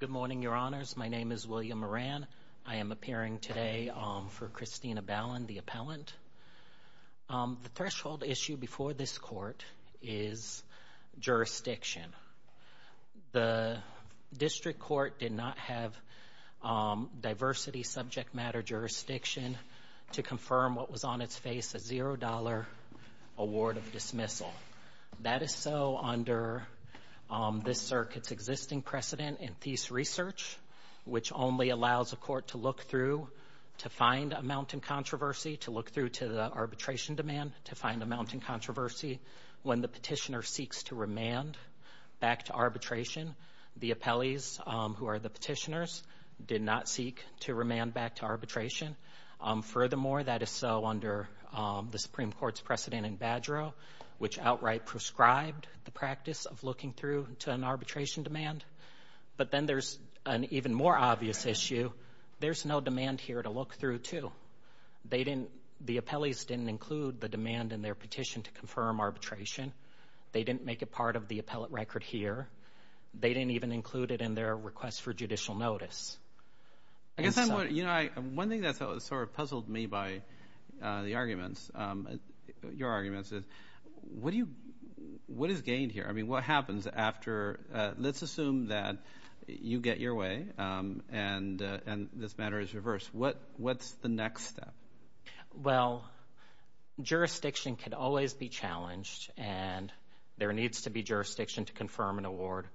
Good morning, Your Honors. My name is William Moran. I am appearing today for Cristina Balan, the appellant. The threshold issue before this court is jurisdiction. The district court did not have diversity subject matter jurisdiction to confirm what was on its face, a $0 award of dismissal. That is so under this circuit's existing precedent in Thies Research, which only allows a court to look through to find a mounting controversy, to look through to the arbitration demand, to find a mounting controversy when the petitioner seeks to remand back to arbitration. The appellees, who are the petitioners, did not seek to remand back to arbitration. Furthermore, that is so under the Supreme Court's precedent in Badgerow, which outright prescribed the practice of looking through to an arbitration demand. But then there's an even more obvious issue. There's no demand here to look through, too. The appellees didn't include the demand in their petition to confirm arbitration. They didn't make it part of the appellate record here. They didn't even include it in their request for judicial notice. One thing that sort of puzzled me by the arguments, your arguments, is what is gained here? I mean, what happens after, let's assume that you get your way and this matter is reversed. What's the next step? Well, jurisdiction can always be challenged, and there needs to be jurisdiction to confirm an award,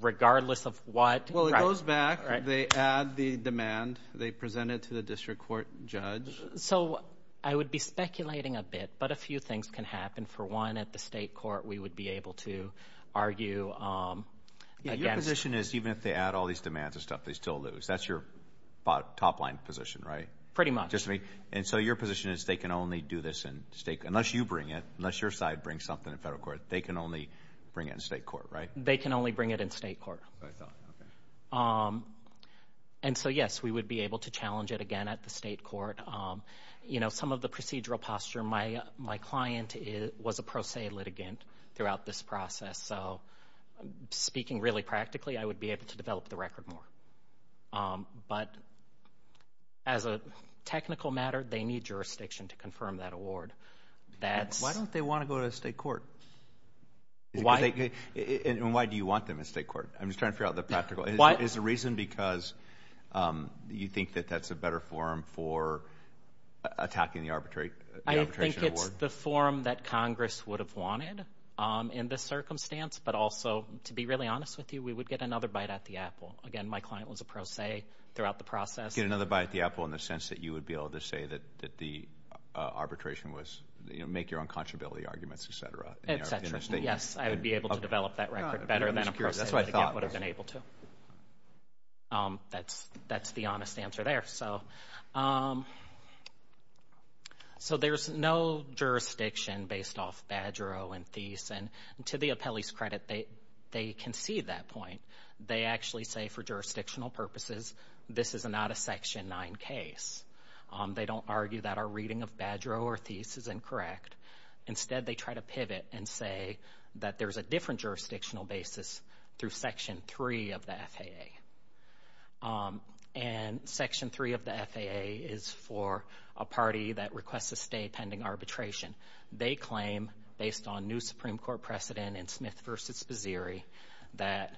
regardless of what. Well, it goes back. They add the demand. They present it to the district court judge. So I would be speculating a bit, but a few things can happen. For one, at the state court, we would be able to argue against— Your position is even if they add all these demands and stuff, they still lose. That's your top-line position, right? Pretty much. And so your position is they can only do this in state—unless you bring it, unless your side brings something to federal court, they can only bring it in state court, right? They can only bring it in state court. And so, yes, we would be able to challenge it again at the state court. Some of the procedural posture, my client was a pro se litigant throughout this process, so speaking really practically, I would be able to develop the record more. But as a technical matter, they need jurisdiction to confirm that award. Why don't they want to go to the state court? Why? And why do you want them in state court? I'm just trying to figure out the practical— Why? Is there a reason because you think that that's a better forum for attacking the arbitration award? I think it's the forum that Congress would have wanted in this circumstance, but also, to be really honest with you, we would get another bite at the apple. Again, my client was a pro se throughout the process. Get another bite at the apple in the sense that you would be able to say that the arbitration was—make your own contrability arguments, et cetera. Yes, I would be able to develop that record better than a pro se litigant would have been able to. That's the honest answer there. So there's no jurisdiction based off Badger O and Thies. And to the appellee's credit, they concede that point. They actually say for jurisdictional purposes, this is not a Section 9 case. They don't argue that our reading of Badger O or Thies is incorrect. Instead, they try to pivot and say that there's a different jurisdictional basis through Section 3 of the FAA. And Section 3 of the FAA is for a party that requests a stay pending arbitration. They claim, based on new Supreme Court precedent in Smith v. Bazzieri, that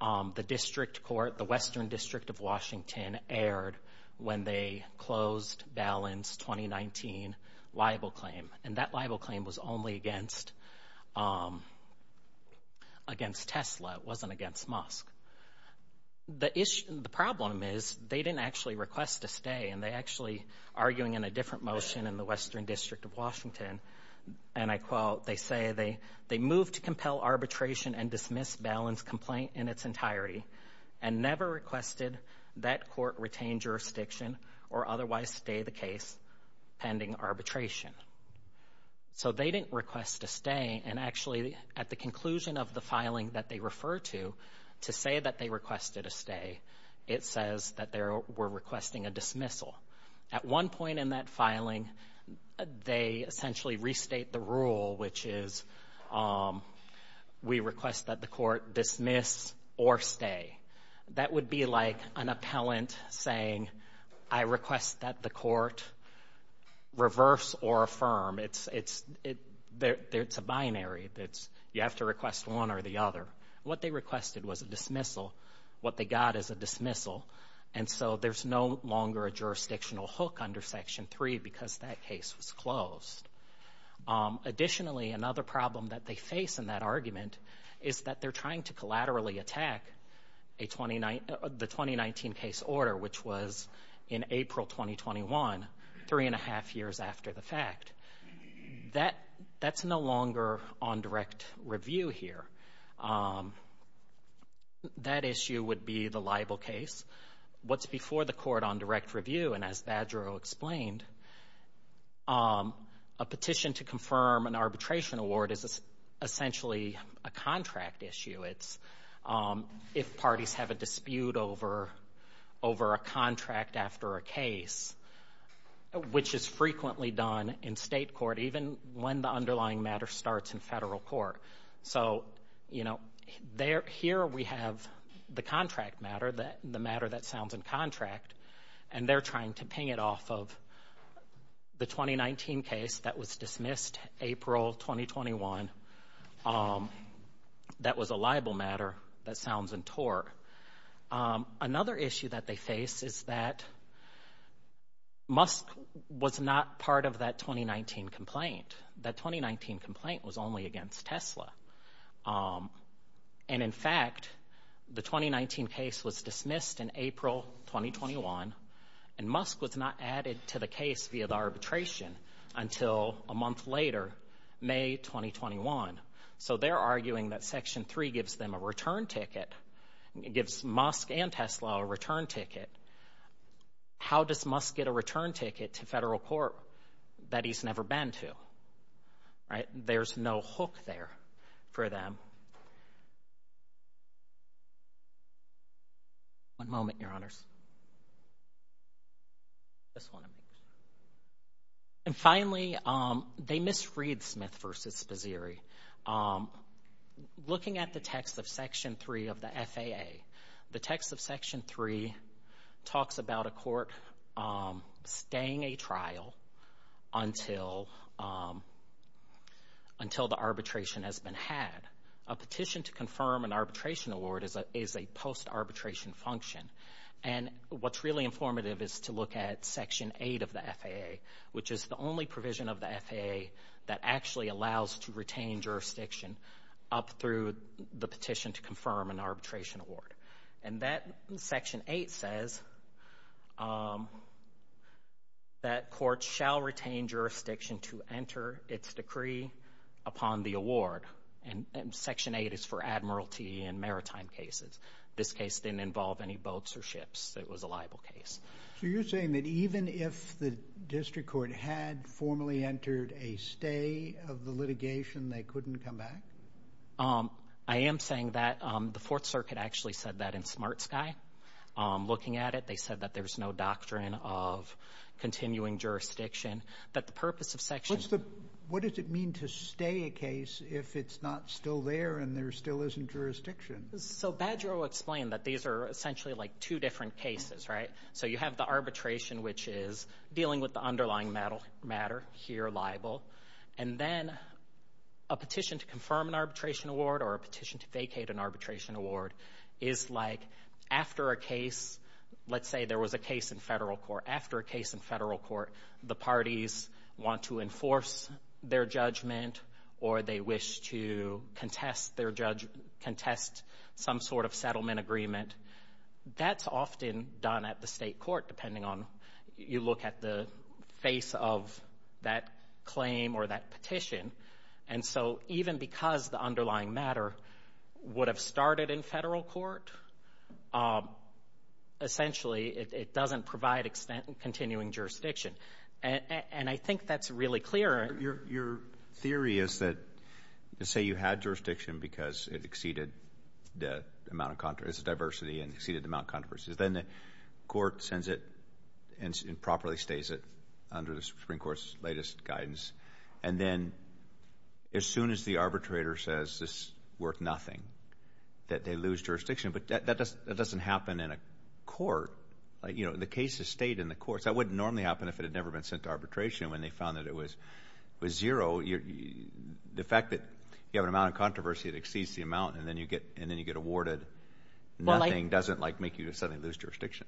the district court, the Western District of Washington, aired when they closed balance 2019 libel claim. And that libel claim was only against Tesla. It wasn't against Musk. The problem is they didn't actually request a stay, and they actually, arguing in a different motion in the Western District of Washington, and I quote, they say they moved to compel arbitration and dismiss balance complaint in its entirety and never requested that court retain jurisdiction or otherwise stay the case pending arbitration. So they didn't request a stay. And actually, at the conclusion of the filing that they refer to to say that they requested a stay, it says that they were requesting a dismissal. At one point in that filing, they essentially restate the rule, which is we request that the court dismiss or stay. That would be like an appellant saying, I request that the court reverse or affirm. It's a binary. You have to request one or the other. What they requested was a dismissal. What they got is a dismissal. And so there's no longer a jurisdictional hook under Section 3 because that case was closed. Additionally, another problem that they face in that argument is that they're trying to collaterally attack the 2019 case order, which was in April 2021, three and a half years after the fact. That's no longer on direct review here. That issue would be the libel case. What's before the court on direct review, and as Badgerow explained, a petition to confirm an arbitration award is essentially a contract issue. It's if parties have a dispute over a contract after a case, which is frequently done in state court, even when the underlying matter starts in federal court. So, you know, here we have the contract matter, the matter that sounds in contract, and they're trying to ping it off of the 2019 case that was dismissed April 2021 that was a libel matter that sounds in tort. Another issue that they face is that Musk was not part of that 2019 complaint. That 2019 complaint was only against Tesla. And, in fact, the 2019 case was dismissed in April 2021, and Musk was not added to the case via the arbitration until a month later, May 2021. So they're arguing that Section 3 gives them a return ticket, gives Musk and Tesla a return ticket. How does Musk get a return ticket to federal court that he's never been to, right? There's no hook there for them. One moment, Your Honors. And, finally, they misread Smith v. Spazzieri. Looking at the text of Section 3 of the FAA, the text of Section 3 talks about a court staying a trial until the arbitration has been had. A petition to confirm an arbitration award is a post-arbitration function. And what's really informative is to look at Section 8 of the FAA, which is the only provision of the FAA that actually allows to retain jurisdiction up through the petition to confirm an arbitration award. And that Section 8 says that courts shall retain jurisdiction to enter its decree upon the award. And Section 8 is for admiralty and maritime cases. This case didn't involve any boats or ships. It was a liable case. So you're saying that even if the district court had formally entered a stay of the litigation, they couldn't come back? I am saying that. The Fourth Circuit actually said that in Smart Sky. Looking at it, they said that there's no doctrine of continuing jurisdiction. That the purpose of Section— What does it mean to stay a case if it's not still there and there still isn't jurisdiction? So Badger will explain that these are essentially like two different cases, right? So you have the arbitration, which is dealing with the underlying matter here, liable. And then a petition to confirm an arbitration award or a petition to vacate an arbitration award is like after a case— let's say there was a case in federal court. After a case in federal court, the parties want to enforce their judgment or they wish to contest some sort of settlement agreement. That's often done at the state court, depending on you look at the face of that claim or that petition. And so even because the underlying matter would have started in federal court, essentially it doesn't provide continuing jurisdiction. And I think that's really clear. Your theory is that, let's say you had jurisdiction because it exceeded the amount of controversy— it's a diversity and exceeded the amount of controversy. Then the court sends it and properly stays it under the Supreme Court's latest guidance. And then as soon as the arbitrator says it's worth nothing, that they lose jurisdiction. But that doesn't happen in a court. You know, the cases stayed in the courts. That wouldn't normally happen if it had never been sent to arbitration. When they found that it was zero, the fact that you have an amount of controversy that exceeds the amount and then you get awarded nothing doesn't make you suddenly lose jurisdiction.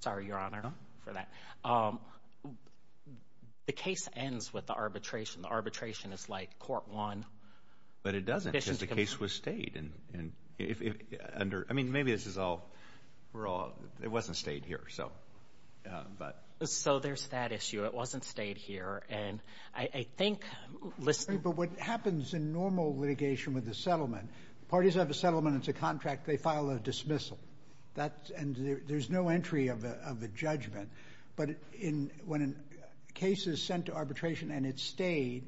Sorry, Your Honor, for that. The case ends with the arbitration. The arbitration is like court one. But it doesn't because the case was stayed. I mean, maybe this is all wrong. It wasn't stayed here. So there's that issue. It wasn't stayed here. And I think— But what happens in normal litigation with a settlement, parties have a settlement. It's a contract. They file a dismissal. And there's no entry of a judgment. But when a case is sent to arbitration and it stayed,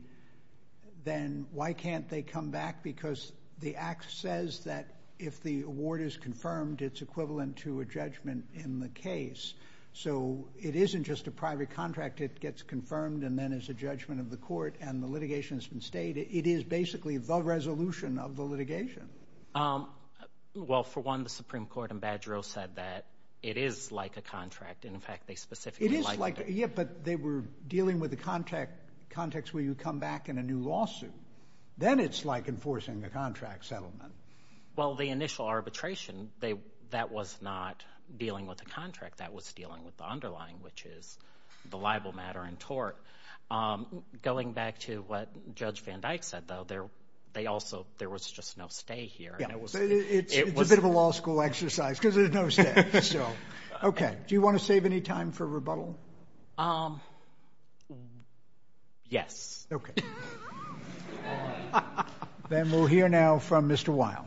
then why can't they come back? Because the act says that if the award is confirmed, it's equivalent to a judgment in the case. So it isn't just a private contract. It gets confirmed and then it's a judgment of the court. And the litigation has been stayed. It is basically the resolution of the litigation. Well, for one, the Supreme Court in Badgerill said that it is like a contract. And, in fact, they specifically likened it. It is like—yeah, but they were dealing with the context where you come back in a new lawsuit. Then it's like enforcing a contract settlement. Well, the initial arbitration, that was not dealing with the contract. That was dealing with the underlying, which is the libel matter in tort. Going back to what Judge Van Dyke said, though, they also—there was just no stay here. It's a bit of a law school exercise because there's no stay. Okay. Do you want to save any time for rebuttal? Yes. Okay. Good morning. Then we'll hear now from Mr. Weil.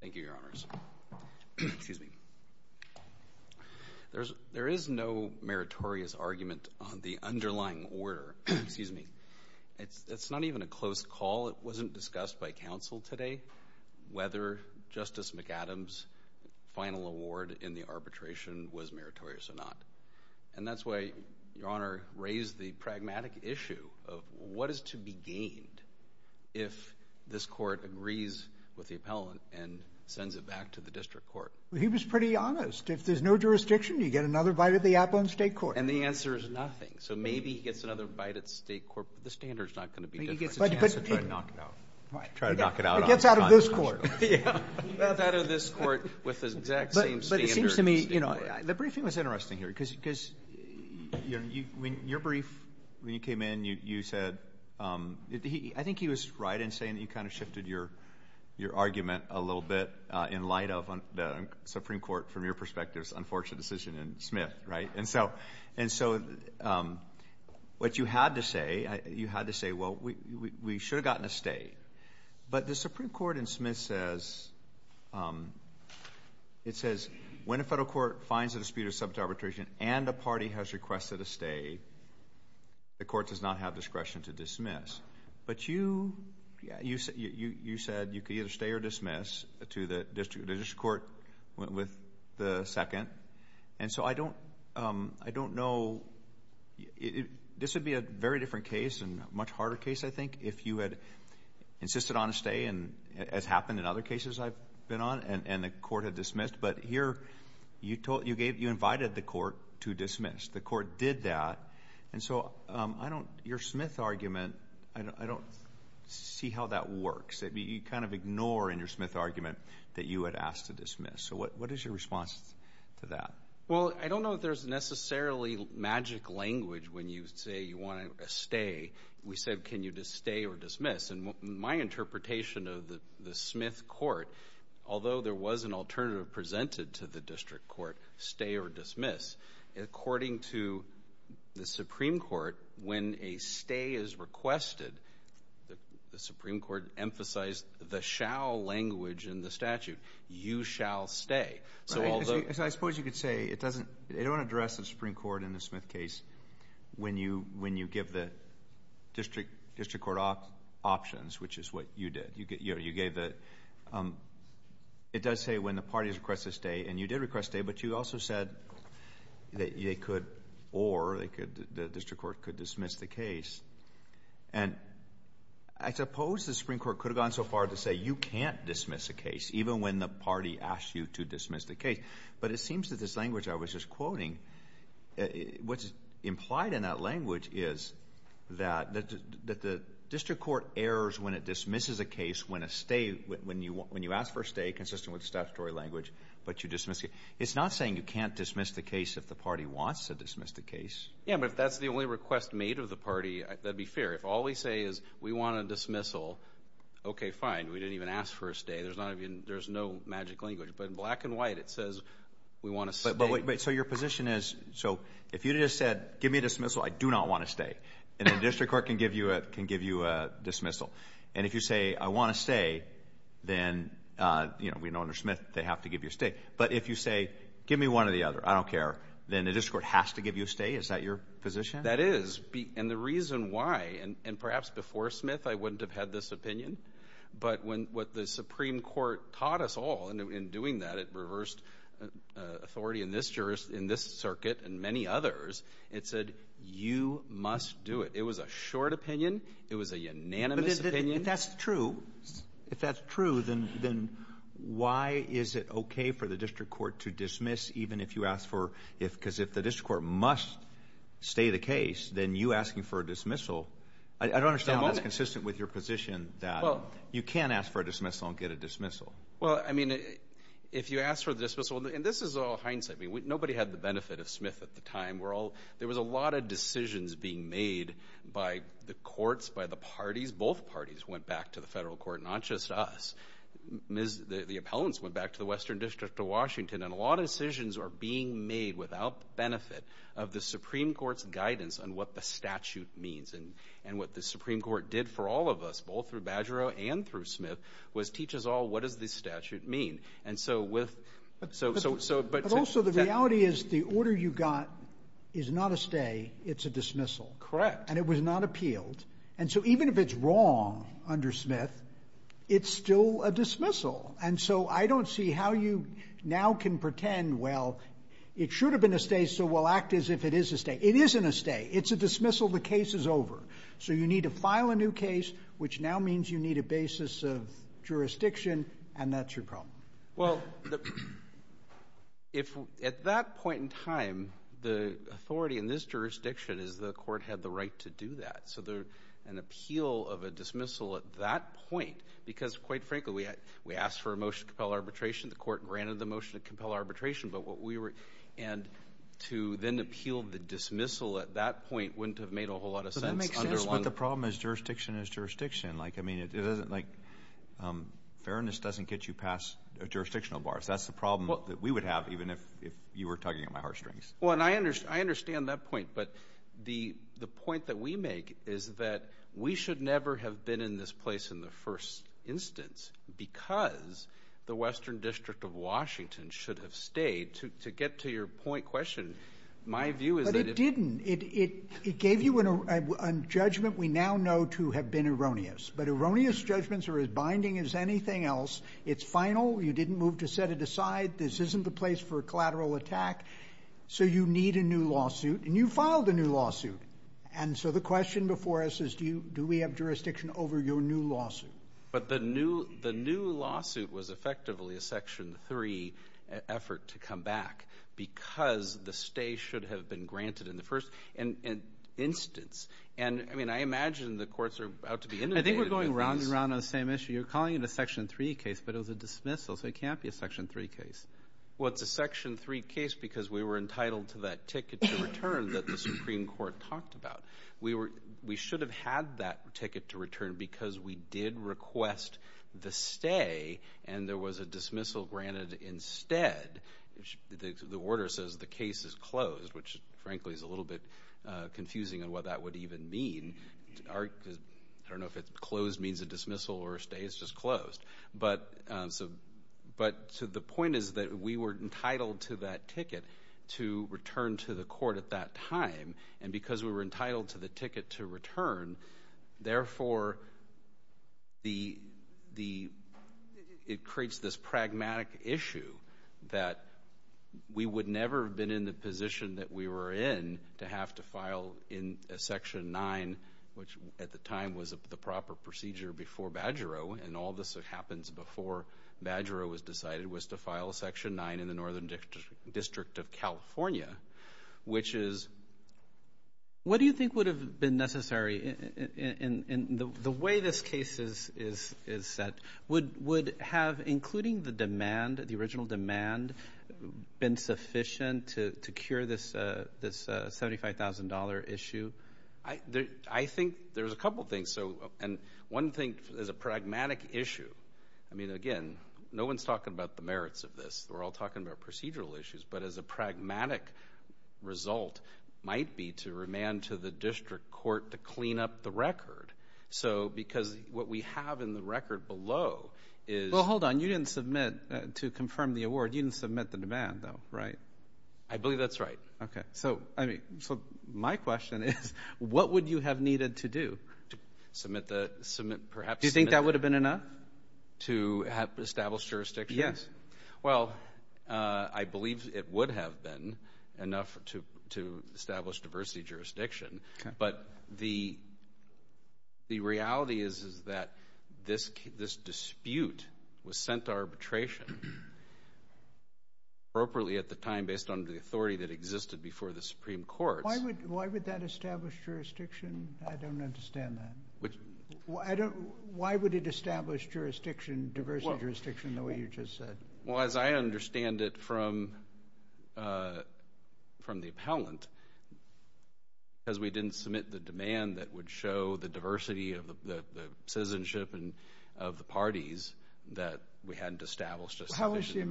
Thank you, Your Honors. Excuse me. There is no meritorious argument on the underlying order. Excuse me. It's not even a close call. It wasn't discussed by counsel today whether Justice McAdams' final award in the arbitration was meritorious or not. And that's why Your Honor raised the pragmatic issue of what is to be gained if this court agrees with the appellant and sends it back to the district court. Well, he was pretty honest. If there's no jurisdiction, you get another bite of the apple in the state court. And the answer is nothing. So maybe he gets another bite at the state court, but the standard is not going to be different. Maybe he gets a chance to try to knock it out. Right. Try to knock it out. It gets out of this court. It gets out of this court with the exact same standard in the state court. The briefing was interesting here because your brief, when you came in, you said, I think he was right in saying that you kind of shifted your argument a little bit in light of the Supreme Court, from your perspective, unfortunate decision in Smith, right? And so what you had to say, you had to say, well, we should have gotten a stay. But the Supreme Court in Smith says, it says when a federal court finds a dispute of subject arbitration and a party has requested a stay, the court does not have discretion to dismiss. But you said you could either stay or dismiss to the district court with the second. And so I don't know. This would be a very different case and a much harder case, I think, if you had insisted on a stay, as happened in other cases I've been on, and the court had dismissed. But here, you invited the court to dismiss. The court did that. And so your Smith argument, I don't see how that works. You kind of ignore in your Smith argument that you had asked to dismiss. So what is your response to that? Well, I don't know if there's necessarily magic language when you say you want a stay. We said, can you just stay or dismiss? And my interpretation of the Smith court, although there was an alternative presented to the district court, stay or dismiss, according to the Supreme Court, when a stay is requested, the Supreme Court emphasized the shall language in the statute. You shall stay. I suppose you could say it doesn't address the Supreme Court in the Smith case when you give the district court options, which is what you did. It does say when the parties request a stay, and you did request a stay, but you also said that they could or the district court could dismiss the case. And I suppose the Supreme Court could have gone so far as to say you can't dismiss a case, even when the party asks you to dismiss the case. But it seems that this language I was just quoting, what's implied in that language is that the district court errors when it dismisses a case when a stay, when you ask for a stay, consistent with statutory language, but you dismiss it. It's not saying you can't dismiss the case if the party wants to dismiss the case. Yeah, but if that's the only request made of the party, that would be fair. If all we say is we want a dismissal, okay, fine. We didn't even ask for a stay. There's no magic language. But in black and white, it says we want a stay. So your position is, so if you just said give me a dismissal, I do not want a stay, and the district court can give you a dismissal. And if you say I want a stay, then we know under Smith they have to give you a stay. But if you say give me one or the other, I don't care, then the district court has to give you a stay? Is that your position? That is. And the reason why, and perhaps before Smith I wouldn't have had this opinion, but what the Supreme Court taught us all in doing that, it reversed authority in this circuit and many others. It said you must do it. It was a short opinion. It was a unanimous opinion. If that's true, if that's true, then why is it okay for the district court to dismiss even if you ask for, because if the district court must stay the case, then you asking for a dismissal, I don't understand. That's consistent with your position that you can't ask for a dismissal and get a dismissal. Well, I mean, if you ask for a dismissal, and this is all hindsight. Nobody had the benefit of Smith at the time. There was a lot of decisions being made by the courts, by the parties. Both parties went back to the federal court, not just us. The appellants went back to the Western District of Washington, and a lot of decisions are being made without the benefit of the Supreme Court's guidance on what the statute means. And what the Supreme Court did for all of us, both through Badgerow and through Smith, was teach us all what does the statute mean. But also the reality is the order you got is not a stay. It's a dismissal. And it was not appealed. And so even if it's wrong under Smith, it's still a dismissal. And so I don't see how you now can pretend, well, it should have been a stay, so we'll act as if it is a stay. It isn't a stay. It's a dismissal. The case is over. So you need to file a new case, which now means you need a basis of jurisdiction, and that's your problem. Well, at that point in time, the authority in this jurisdiction is the court had the right to do that. So an appeal of a dismissal at that point, because, quite frankly, we asked for a motion to compel arbitration. The court granted the motion to compel arbitration. And to then appeal the dismissal at that point wouldn't have made a whole lot of sense. But that makes sense. But the problem is jurisdiction is jurisdiction. Like, I mean, it doesn't, like, fairness doesn't get you past jurisdictional bars. That's the problem that we would have even if you were tugging at my heartstrings. Well, and I understand that point. But the point that we make is that we should never have been in this place in the first instance, because the Western District of Washington should have stayed. To get to your point question, my view is that if ---- But it didn't. It gave you a judgment we now know to have been erroneous. But erroneous judgments are as binding as anything else. It's final. You didn't move to set it aside. This isn't the place for a collateral attack. So you need a new lawsuit. And you filed a new lawsuit. And so the question before us is do we have jurisdiction over your new lawsuit? But the new lawsuit was effectively a Section 3 effort to come back because the stay should have been granted in the first instance. And, I mean, I imagine the courts are about to be inundated with these. I think we're going round and round on the same issue. You're calling it a Section 3 case, but it was a dismissal, so it can't be a Section 3 case. Well, it's a Section 3 case because we were entitled to that ticket to return that the Supreme Court talked about. We should have had that ticket to return because we did request the stay and there was a dismissal granted instead. The order says the case is closed, which, frankly, is a little bit confusing on what that would even mean. I don't know if closed means a dismissal or a stay. It's just closed. But the point is that we were entitled to that ticket to return to the court at that time. And because we were entitled to the ticket to return, therefore, it creates this pragmatic issue that we would never have been in the position that we were in to have to file in a Section 9, which at the time was the proper procedure before Badgero, and all this happens before Badgero was decided, was to file a Section 9 in the Northern District of California, which is... What do you think would have been necessary in the way this case is set? Would have, including the demand, the original demand, been sufficient to cure this $75,000 issue? I think there's a couple things. And one thing is a pragmatic issue. I mean, again, no one's talking about the merits of this. We're all talking about procedural issues. But as a pragmatic result might be to remand to the district court to clean up the record. So because what we have in the record below is... Well, hold on. You didn't submit to confirm the award. You didn't submit the demand, though, right? I believe that's right. Okay. So my question is, what would you have needed to do? Submit the.. .perhaps... Do you think that would have been enough? To establish jurisdiction? Yes. Well, I believe it would have been enough to establish diversity jurisdiction. Okay. But the reality is that this dispute was sent to arbitration appropriately at the time, based on the authority that existed before the Supreme Court. Why would that establish jurisdiction? I don't understand that. Why would it establish diversity jurisdiction the way you just said? Well, as I understand it from the appellant, because we didn't submit the demand that would show the diversity of the citizenship of the parties, that we hadn't established a sufficient...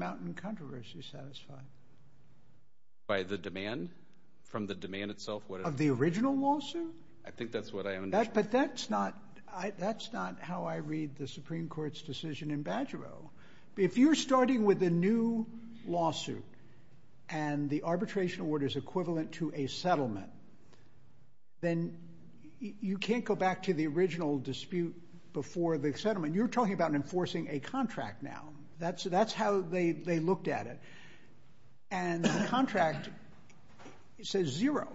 By the demand? From the demand itself? Of the original lawsuit? I think that's what I understand. But that's not how I read the Supreme Court's decision in Badgero. If you're starting with a new lawsuit and the arbitration order is equivalent to a settlement, then you can't go back to the original dispute before the settlement. You're talking about enforcing a contract now. That's how they looked at it. And the contract says zero.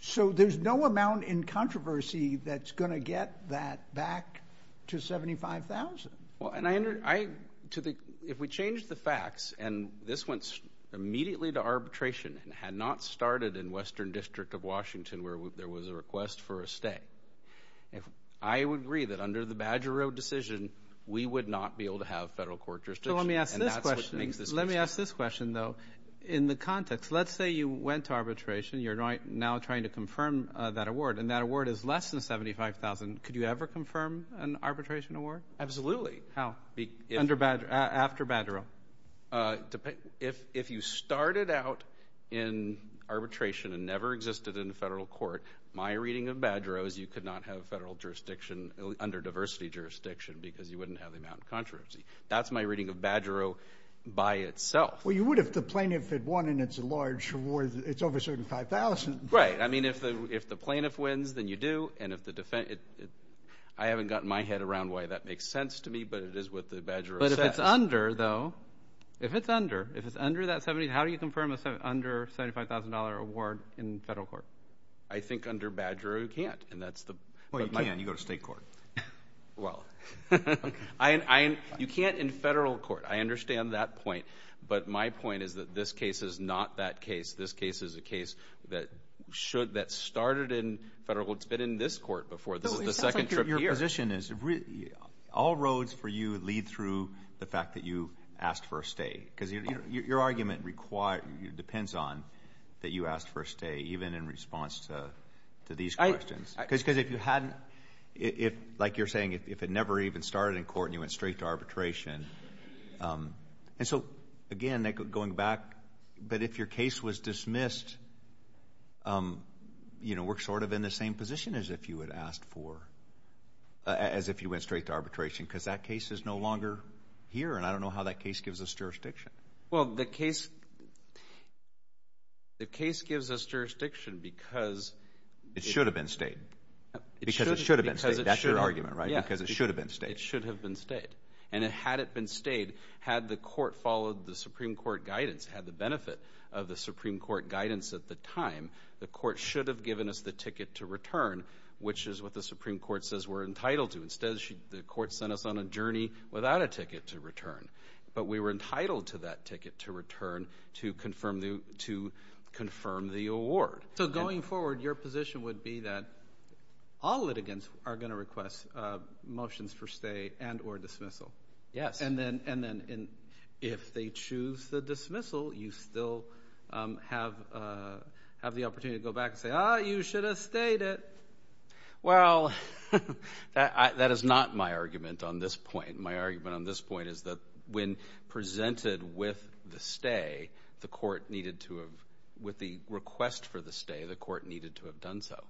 So there's no amount in controversy that's going to get that back to $75,000. Well, if we change the facts, and this went immediately to arbitration and had not started in Western District of Washington, where there was a request for a stay, I would agree that under the Badgero decision, we would not be able to have federal court jurisdiction. So let me ask this question. Let me ask this question, though. In the context, let's say you went to arbitration. You're now trying to confirm that award, and that award is less than $75,000. Could you ever confirm an arbitration award? Absolutely. How? After Badgero? If you started out in arbitration and never existed in the federal court, my reading of Badgero is you could not have federal jurisdiction under diversity jurisdiction because you wouldn't have the amount of controversy. That's my reading of Badgero by itself. Well, you would if the plaintiff had won, and it's a large award. It's over $75,000. Right. I mean, if the plaintiff wins, then you do. And I haven't gotten my head around why that makes sense to me, but it is what the Badgero says. But if it's under, though, if it's under, if it's under that $75,000, how do you confirm an under $75,000 award in federal court? I think under Badgero you can't. Well, you can. You go to state court. Well, you can't in federal court. I understand that point. But my point is that this case is not that case. This case is a case that started in federal court. It's been in this court before. This is the second trip here. Your position is all roads for you lead through the fact that you asked for a stay because your argument depends on that you asked for a stay, even in response to these questions. Because if you hadn't, if, like you're saying, if it never even started in court and you went straight to arbitration. And so, again, going back, but if your case was dismissed, you know, we're sort of in the same position as if you had asked for, as if you went straight to arbitration because that case is no longer here, and I don't know how that case gives us jurisdiction. Well, the case, the case gives us jurisdiction because. It should have been stayed. Because it should have been stayed. That's your argument, right? Because it should have been stayed. It should have been stayed. And had it been stayed, had the court followed the Supreme Court guidance, had the benefit of the Supreme Court guidance at the time, the court should have given us the ticket to return, which is what the Supreme Court says we're entitled to. Instead, the court sent us on a journey without a ticket to return. But we were entitled to that ticket to return to confirm the award. So going forward, your position would be that all litigants are going to request motions for stay and or dismissal. Yes. And then if they choose the dismissal, you still have the opportunity to go back and say, ah, you should have stayed it. Well, that is not my argument on this point. My argument on this point is that when presented with the stay, the court needed to have, with the request for the stay, the court needed to have done so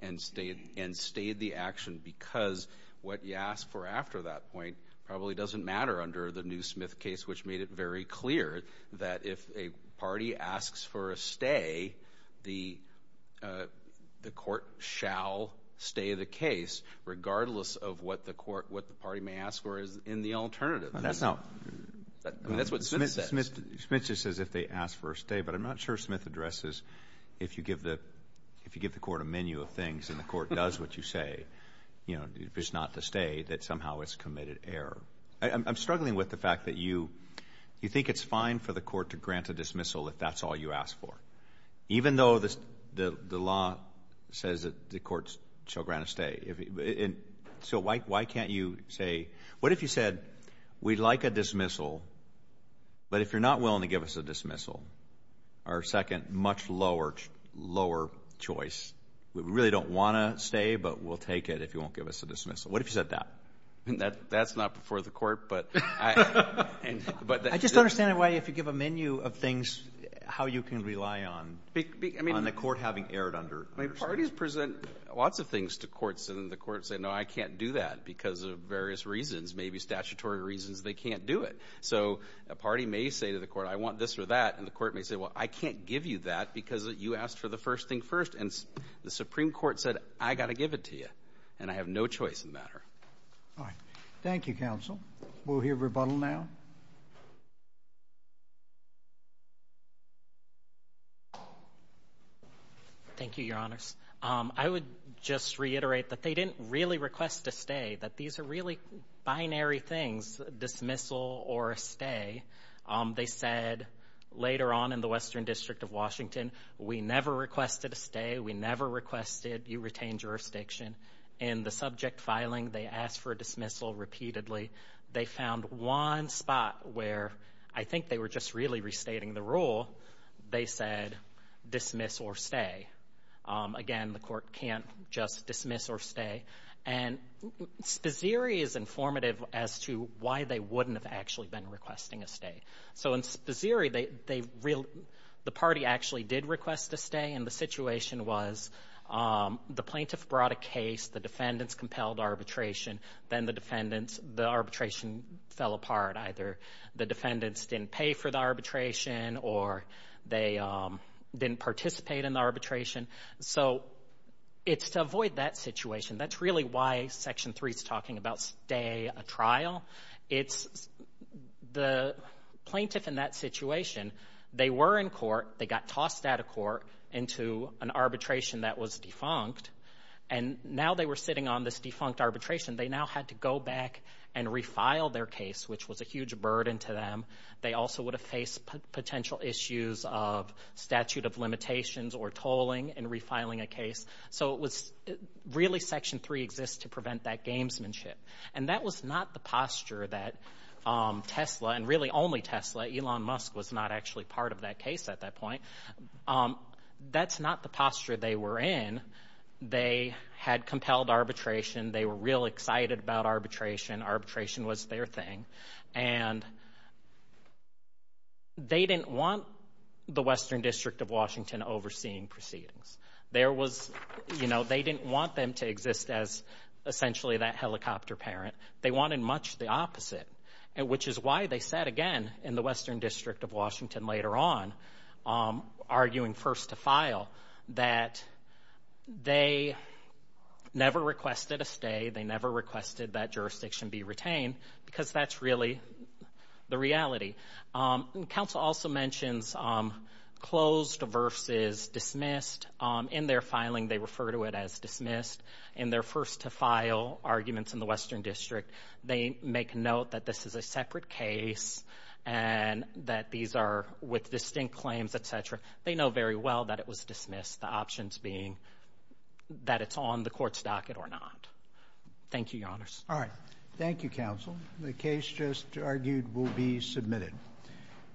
and stayed the action because what you ask for after that point probably doesn't matter under the new Smith case, which made it very clear that if a party asks for a stay, the court shall stay the case regardless of what the court, what the party may ask for in the alternative. That's not. That's what Smith says. Smith just says if they ask for a stay, but I'm not sure Smith addresses if you give the court a menu of things and the court does what you say, you know, if it's not to stay that somehow it's committed error. I'm struggling with the fact that you think it's fine for the court to grant a dismissal if that's all you ask for, even though the law says that the court shall grant a stay. So why can't you say, what if you said we'd like a dismissal, but if you're not willing to give us a dismissal, our second much lower choice, we really don't want to stay, but we'll take it if you won't give us a dismissal. What if you said that? That's not before the court. I just don't understand why if you give a menu of things, how you can rely on the court having errored under. Parties present lots of things to courts and the courts say, no, I can't do that because of various reasons, maybe statutory reasons, they can't do it. So a party may say to the court, I want this or that, and the court may say, well, I can't give you that because you asked for the first thing first. And the Supreme Court said, I've got to give it to you, and I have no choice in the matter. All right. Thank you, counsel. We'll hear rebuttal now. Thank you, Your Honors. I would just reiterate that they didn't really request a stay, that these are really binary things, dismissal or a stay. They said later on in the Western District of Washington, we never requested a stay, we never requested you retain jurisdiction. In the subject filing, they asked for a dismissal repeatedly. They found one spot where I think they were just really restating the rule. They said dismiss or stay. Again, the court can't just dismiss or stay. And Spazeri is informative as to why they wouldn't have actually been requesting a stay. So in Spazeri, the party actually did request a stay, and the situation was the plaintiff brought a case, the defendants compelled arbitration, then the arbitration fell apart. Either the defendants didn't pay for the arbitration or they didn't participate in the arbitration. So it's to avoid that situation. That's really why Section 3 is talking about stay a trial. It's the plaintiff in that situation, they were in court, they got tossed out of court into an arbitration that was defunct, and now they were sitting on this defunct arbitration. They now had to go back and refile their case, which was a huge burden to them. They also would have faced potential issues of statute of limitations or tolling and refiling a case. So it was really Section 3 exists to prevent that gamesmanship. And that was not the posture that Tesla, and really only Tesla, Elon Musk was not actually part of that case at that point. That's not the posture they were in. They had compelled arbitration. They were real excited about arbitration. Arbitration was their thing. And they didn't want the Western District of Washington overseeing proceedings. There was, you know, they didn't want them to exist as essentially that helicopter parent. They wanted much the opposite, which is why they said again in the Western District of Washington later on, arguing first to file, that they never requested a stay, they never requested that jurisdiction be retained, because that's really the reality. Counsel also mentions closed versus dismissed. In their filing, they refer to it as dismissed. In their first to file arguments in the Western District, they make note that this is a separate case and that these are with distinct claims, et cetera. They know very well that it was dismissed, the options being that it's on the court's docket or not. Thank you, Your Honors. All right. Thank you, Counsel. The case just argued will be submitted.